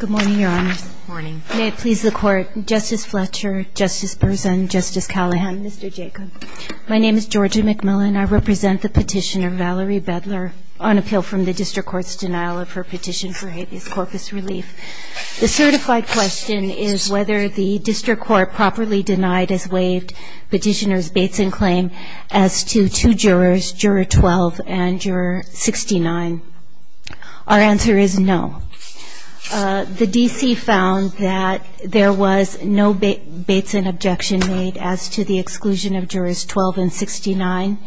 Good morning, Your Honors. Good morning. May it please the Court, Justice Fletcher, Justice Berzin, Justice Callahan, Mr. Jacob. My name is Georgia McMillan. I represent the petitioner, Valerie Beidler, on appeal from the district court's denial of her petition for habeas corpus relief. The certified question is whether the district court properly denied, as waived, petitioner's Bateson claim as to two jurors, juror 12 and juror 69. Our answer is no. The D.C. found that there was no Bateson objection made as to the exclusion of jurors 12 and 69.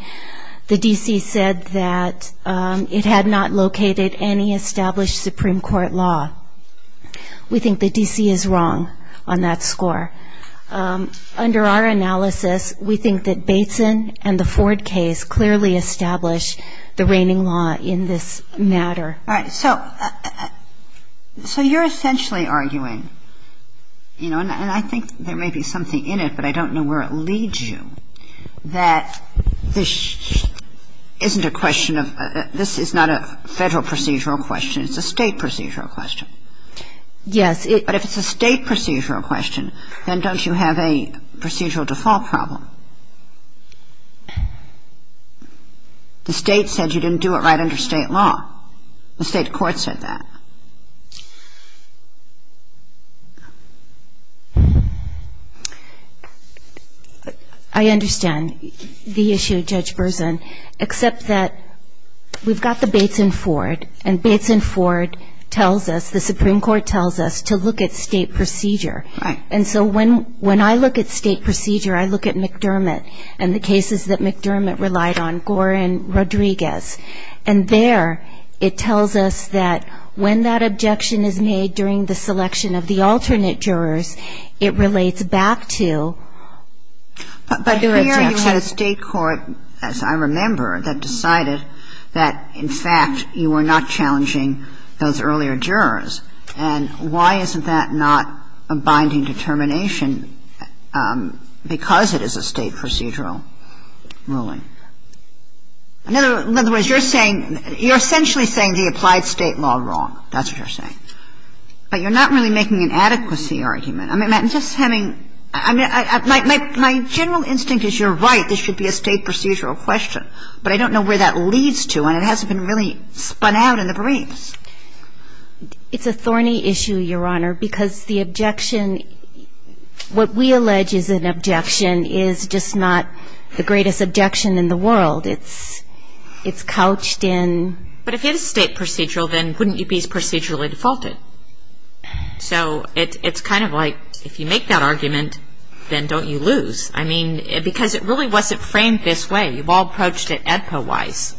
The D.C. said that it had not located any established Supreme Court law. We think the D.C. is wrong on that score. Under our analysis, we think that Bateson and the Ford case clearly establish the reigning law in this matter. All right. So you're essentially arguing, you know, and I think there may be something in it, but I don't know where it leads you, that this isn't a question of this is not a federal procedural question. It's a state procedural question. Yes. But if it's a state procedural question, then don't you have a procedural default problem? The state said you didn't do it right under state law. The state court said that. I understand the issue, Judge Berzin, except that we've got the Bateson-Ford, and Bateson-Ford tells us, the Supreme Court tells us, to look at state procedure. Right. And so when I look at state procedure, I look at McDermott and the cases that McDermott relied on, Gore and Rodriguez, and there it tells us that when that objection is made during the selection of the alternate jurors, it relates back to the objection. And so you're saying that the state court, as I remember, that decided that, in fact, you were not challenging those earlier jurors, and why isn't that not a binding determination because it is a state procedural ruling? In other words, you're saying you're essentially saying the applied state law wrong. That's what you're saying. But you're not really making an adequacy argument. I'm just having my general instinct is you're right. This should be a state procedural question. But I don't know where that leads to, and it hasn't been really spun out in the briefs. It's a thorny issue, Your Honor, because the objection, what we allege is an objection is just not the greatest objection in the world. It's couched in. But if you had a state procedural, then wouldn't you be procedurally defaulted? So it's kind of like if you make that argument, then don't you lose. I mean, because it really wasn't framed this way. You've all approached it AEDPA-wise.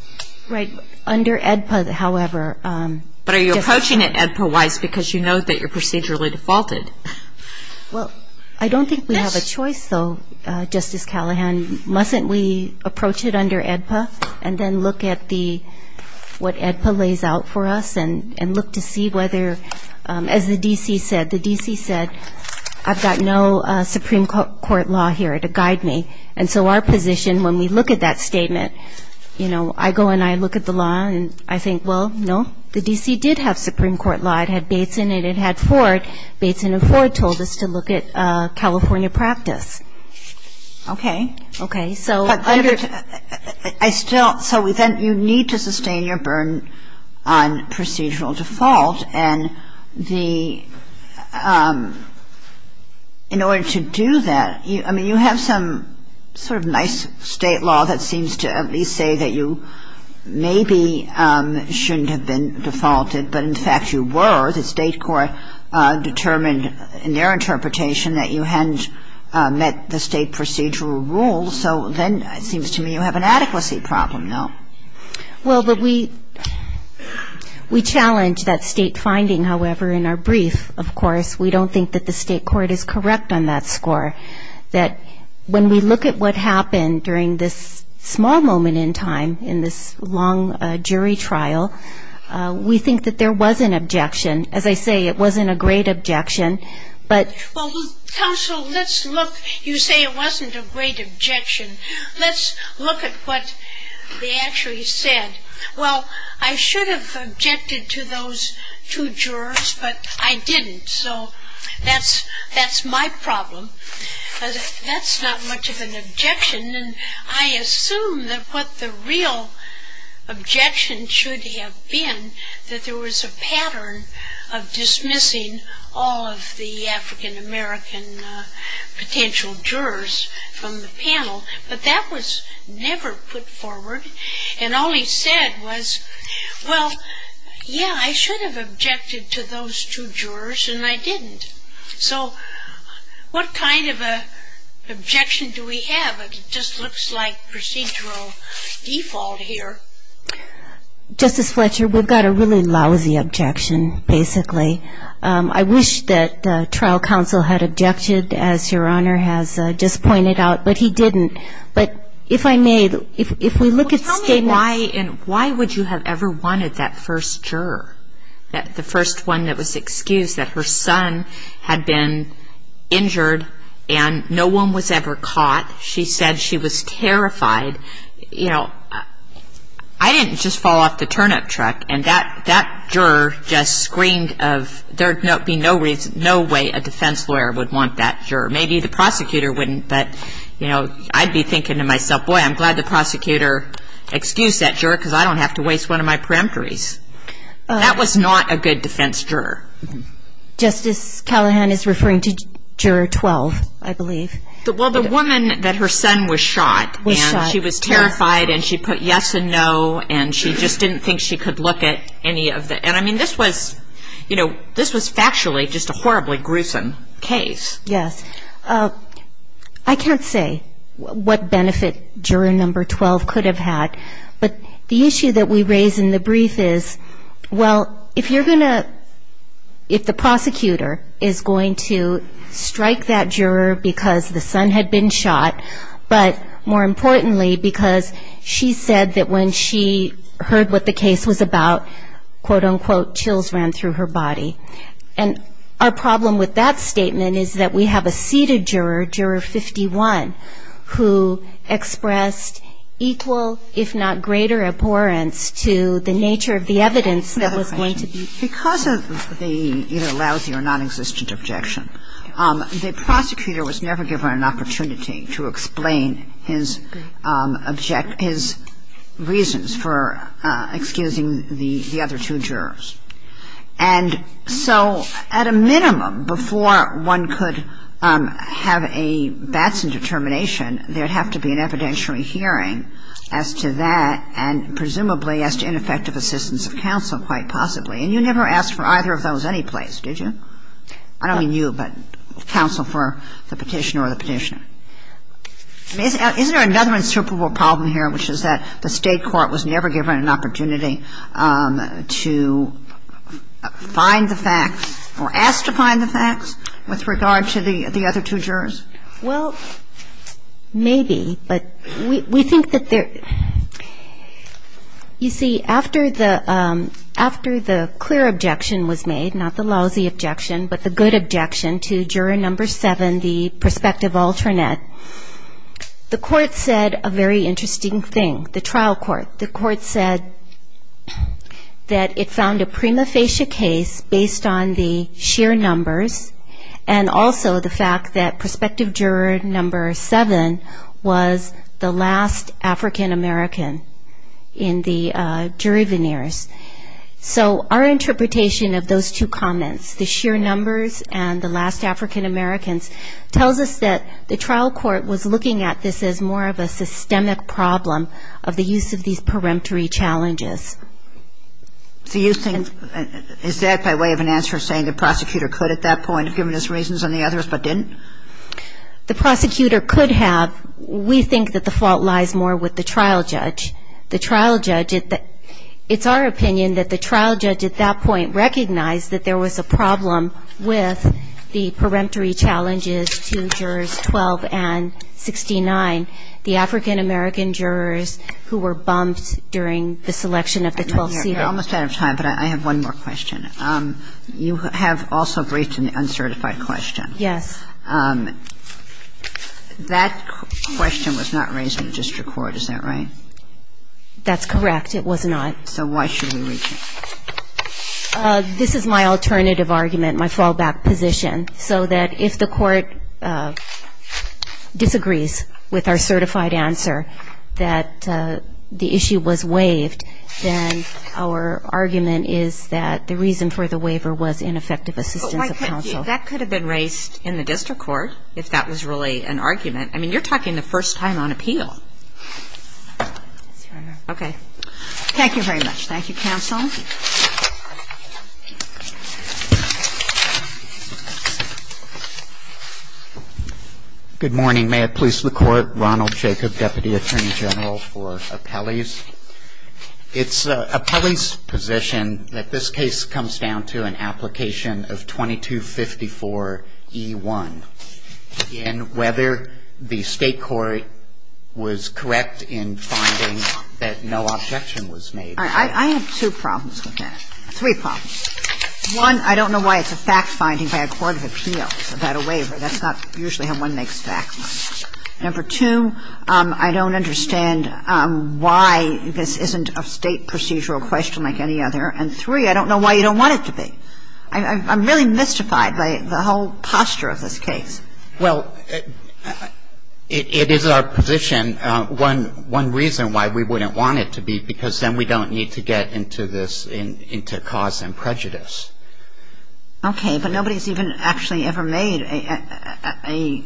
Right. Under AEDPA, however. But are you approaching it AEDPA-wise because you know that you're procedurally defaulted? Well, I don't think we have a choice, though, Justice Callahan. And mustn't we approach it under AEDPA and then look at what AEDPA lays out for us and look to see whether, as the D.C. said, the D.C. said, I've got no Supreme Court law here to guide me. And so our position, when we look at that statement, you know, I go and I look at the law, and I think, well, no, the D.C. did have Supreme Court law. It had Bateson and it had Ford. Bateson and Ford told us to look at California practice. Okay. Okay. But I still – so you need to sustain your burden on procedural default. And the – in order to do that, I mean, you have some sort of nice state law that seems to at least say that you maybe shouldn't have been defaulted, but in fact you were. The state court determined in their interpretation that you hadn't met the state procedural rules, so then it seems to me you have an adequacy problem now. Well, but we challenge that state finding, however, in our brief, of course. We don't think that the state court is correct on that score, that when we look at what happened during this small moment in time in this long jury trial, we think that there was an objection. As I say, it wasn't a great objection, but – Well, counsel, let's look – you say it wasn't a great objection. Let's look at what they actually said. Well, I should have objected to those two jurors, but I didn't, so that's my problem. That's not much of an objection, and I assume that what the real objection should have been, that there was a pattern of dismissing all of the African-American potential jurors from the panel, but that was never put forward, and all he said was, well, yeah, I should have objected to those two jurors, and I didn't. So what kind of an objection do we have? It just looks like procedural default here. Justice Fletcher, we've got a really lousy objection, basically. I wish that trial counsel had objected, as Your Honor has just pointed out, but he didn't. But if I may, if we look at statements – Well, tell me why, and why would you have ever wanted that first juror, the first one that was excused, that her son had been injured and no one was ever caught. She said she was terrified. You know, I didn't just fall off the turnip truck, and that juror just screamed of, there would be no way a defense lawyer would want that juror. Maybe the prosecutor wouldn't, but, you know, I'd be thinking to myself, boy, I'm glad the prosecutor excused that juror because I don't have to waste one of my peremptories. That was not a good defense juror. Justice Callahan is referring to Juror 12, I believe. Well, the woman that her son was shot, and she was terrified, and she put yes and no, and she just didn't think she could look at any of the – and, I mean, this was, you know, this was factually just a horribly gruesome case. Yes. I can't say what benefit Juror Number 12 could have had, but the issue that we raise in the brief is, well, if you're going to – if the prosecutor is going to strike that juror because the son had been shot, but, more importantly, because she said that when she heard what the case was about, quote, unquote, chills ran through her body. And our problem with that statement is that we have a seated juror, Juror 51, who expressed equal, if not greater abhorrence to the nature of the evidence that was going to be – Because of the either lousy or nonexistent objection, the prosecutor was never given an opportunity to explain his reasons for excusing the other two jurors. And so, at a minimum, before one could have a Batson defense, there would have to be an evidentiary hearing as to that and, presumably, as to ineffective assistance of counsel, quite possibly. And you never asked for either of those anyplace, did you? I don't mean you, but counsel for the petitioner or the petitioner. I mean, isn't there another insuperable problem here, which is that the State court was never given an opportunity to find the facts or asked to find the facts with regard to the other two jurors? Well, maybe, but we think that there – You see, after the clear objection was made, not the lousy objection, but the good objection to Juror No. 7, the prospective alternate, the court said a very interesting thing, the trial court. The court said that it found a prima facie case based on the sheer numbers and also the fact that Prospective Juror No. 7 was the last African-American in the jury veneers. So our interpretation of those two comments, the sheer numbers and the last African-Americans, tells us that the trial court was looking at this as more of a systemic problem of the use of these peremptory challenges. So you think – is that by way of an answer saying the prosecutor could at that point have given his reasons on the others but didn't? The prosecutor could have. We think that the fault lies more with the trial judge. The trial judge – it's our opinion that the trial judge at that point recognized that there was a problem with the peremptory challenges to Jurors 12 and 69, the African-American jurors who were bumped during the selection of the 12CA. You're almost out of time, but I have one more question. You have also briefed an uncertified question. Yes. That question was not raised in the district court, is that right? That's correct. It was not. So why should we reach it? This is my alternative argument, my fallback position, so that if the court disagrees with our certified answer that the issue was waived, then our argument is that the reason for the waiver was ineffective assistance of counsel. That could have been raised in the district court, if that was really an argument. I mean, you're talking the first time on appeal. Okay. Thank you very much. Thank you, counsel. Good morning. May it please the Court, Ronald Jacob, Deputy Attorney General for Appellees. It's an appellee's position that this case comes down to an application of 2254E1 in whether the state court would approve a waiver. That's correct. That was correct in finding that no objection was made. All right. I have two problems with that, three problems. One, I don't know why it's a fact-finding by a court of appeals about a waiver. That's not usually how one makes facts. Number two, I don't understand why this isn't a state procedural question like any other. And three, I don't know why you don't want it to be. I'm really mystified by the whole posture of this case. Well, it is our position. One reason why we wouldn't want it to be, because then we don't need to get into this, into cause and prejudice. Okay. But nobody's even actually ever made a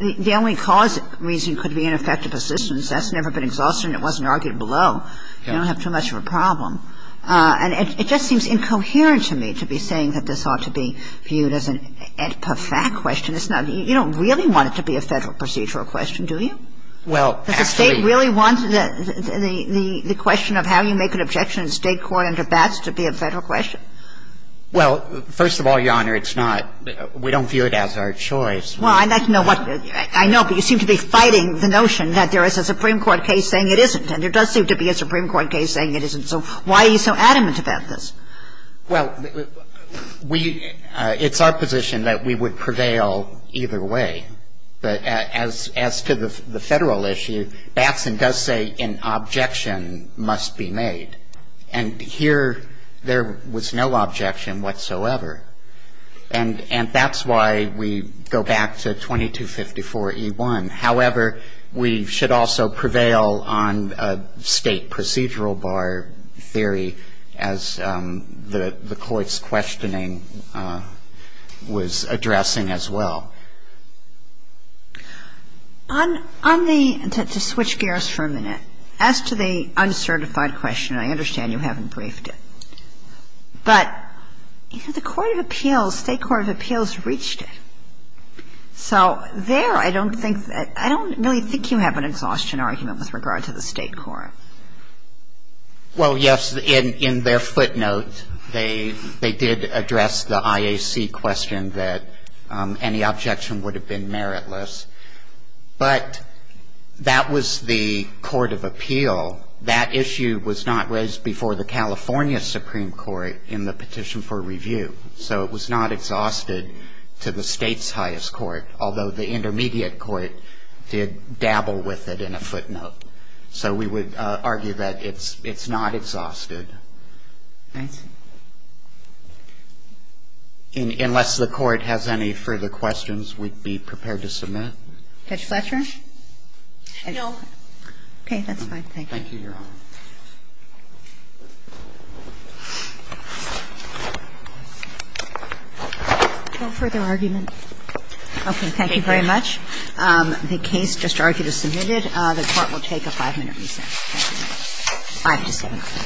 the only cause reason could be ineffective assistance. That's never been exhausted, and it wasn't argued below. You don't have too much of a problem. And it just seems incoherent to me to be saying that this ought to be viewed as a fact question. It's not. You don't really want it to be a Federal procedural question, do you? Well, actually. Does the State really want the question of how you make an objection in state court under BATS to be a Federal question? Well, first of all, Your Honor, it's not. We don't view it as our choice. Well, I'd like to know what you seem to be fighting the notion that there is a Supreme Court case saying it isn't. And there does seem to be a Supreme Court case saying it isn't. So why are you so adamant about this? Well, it's our position that we would prevail either way. But as to the Federal issue, BATS does say an objection must be made. And here there was no objection whatsoever. And that's why we go back to 2254E1. However, we should also prevail on a State procedural bar theory as the Court's questioning was addressing as well. On the ‑‑ to switch gears for a minute. As to the uncertified question, I understand you haven't briefed it. But the Court of Appeals, State Court of Appeals reached it. So there I don't think that ‑‑ I don't really think you have an exhaustion argument with regard to the State court. Well, yes. In their footnote, they did address the IAC question that any objection would have been meritless. But that was the Court of Appeal. That issue was not raised before the California Supreme Court in the petition for review. So it was not exhausted to the State's highest court, although the intermediate court did dabble with it in a footnote. So we would argue that it's not exhausted. I see. Unless the Court has any further questions, we'd be prepared to submit. Judge Fletcher? No. Okay. That's fine. Thank you. Thank you, Your Honor. No further argument? Okay. Thank you very much. The case just argued as submitted. The Court will take a five-minute recess. Five to seven.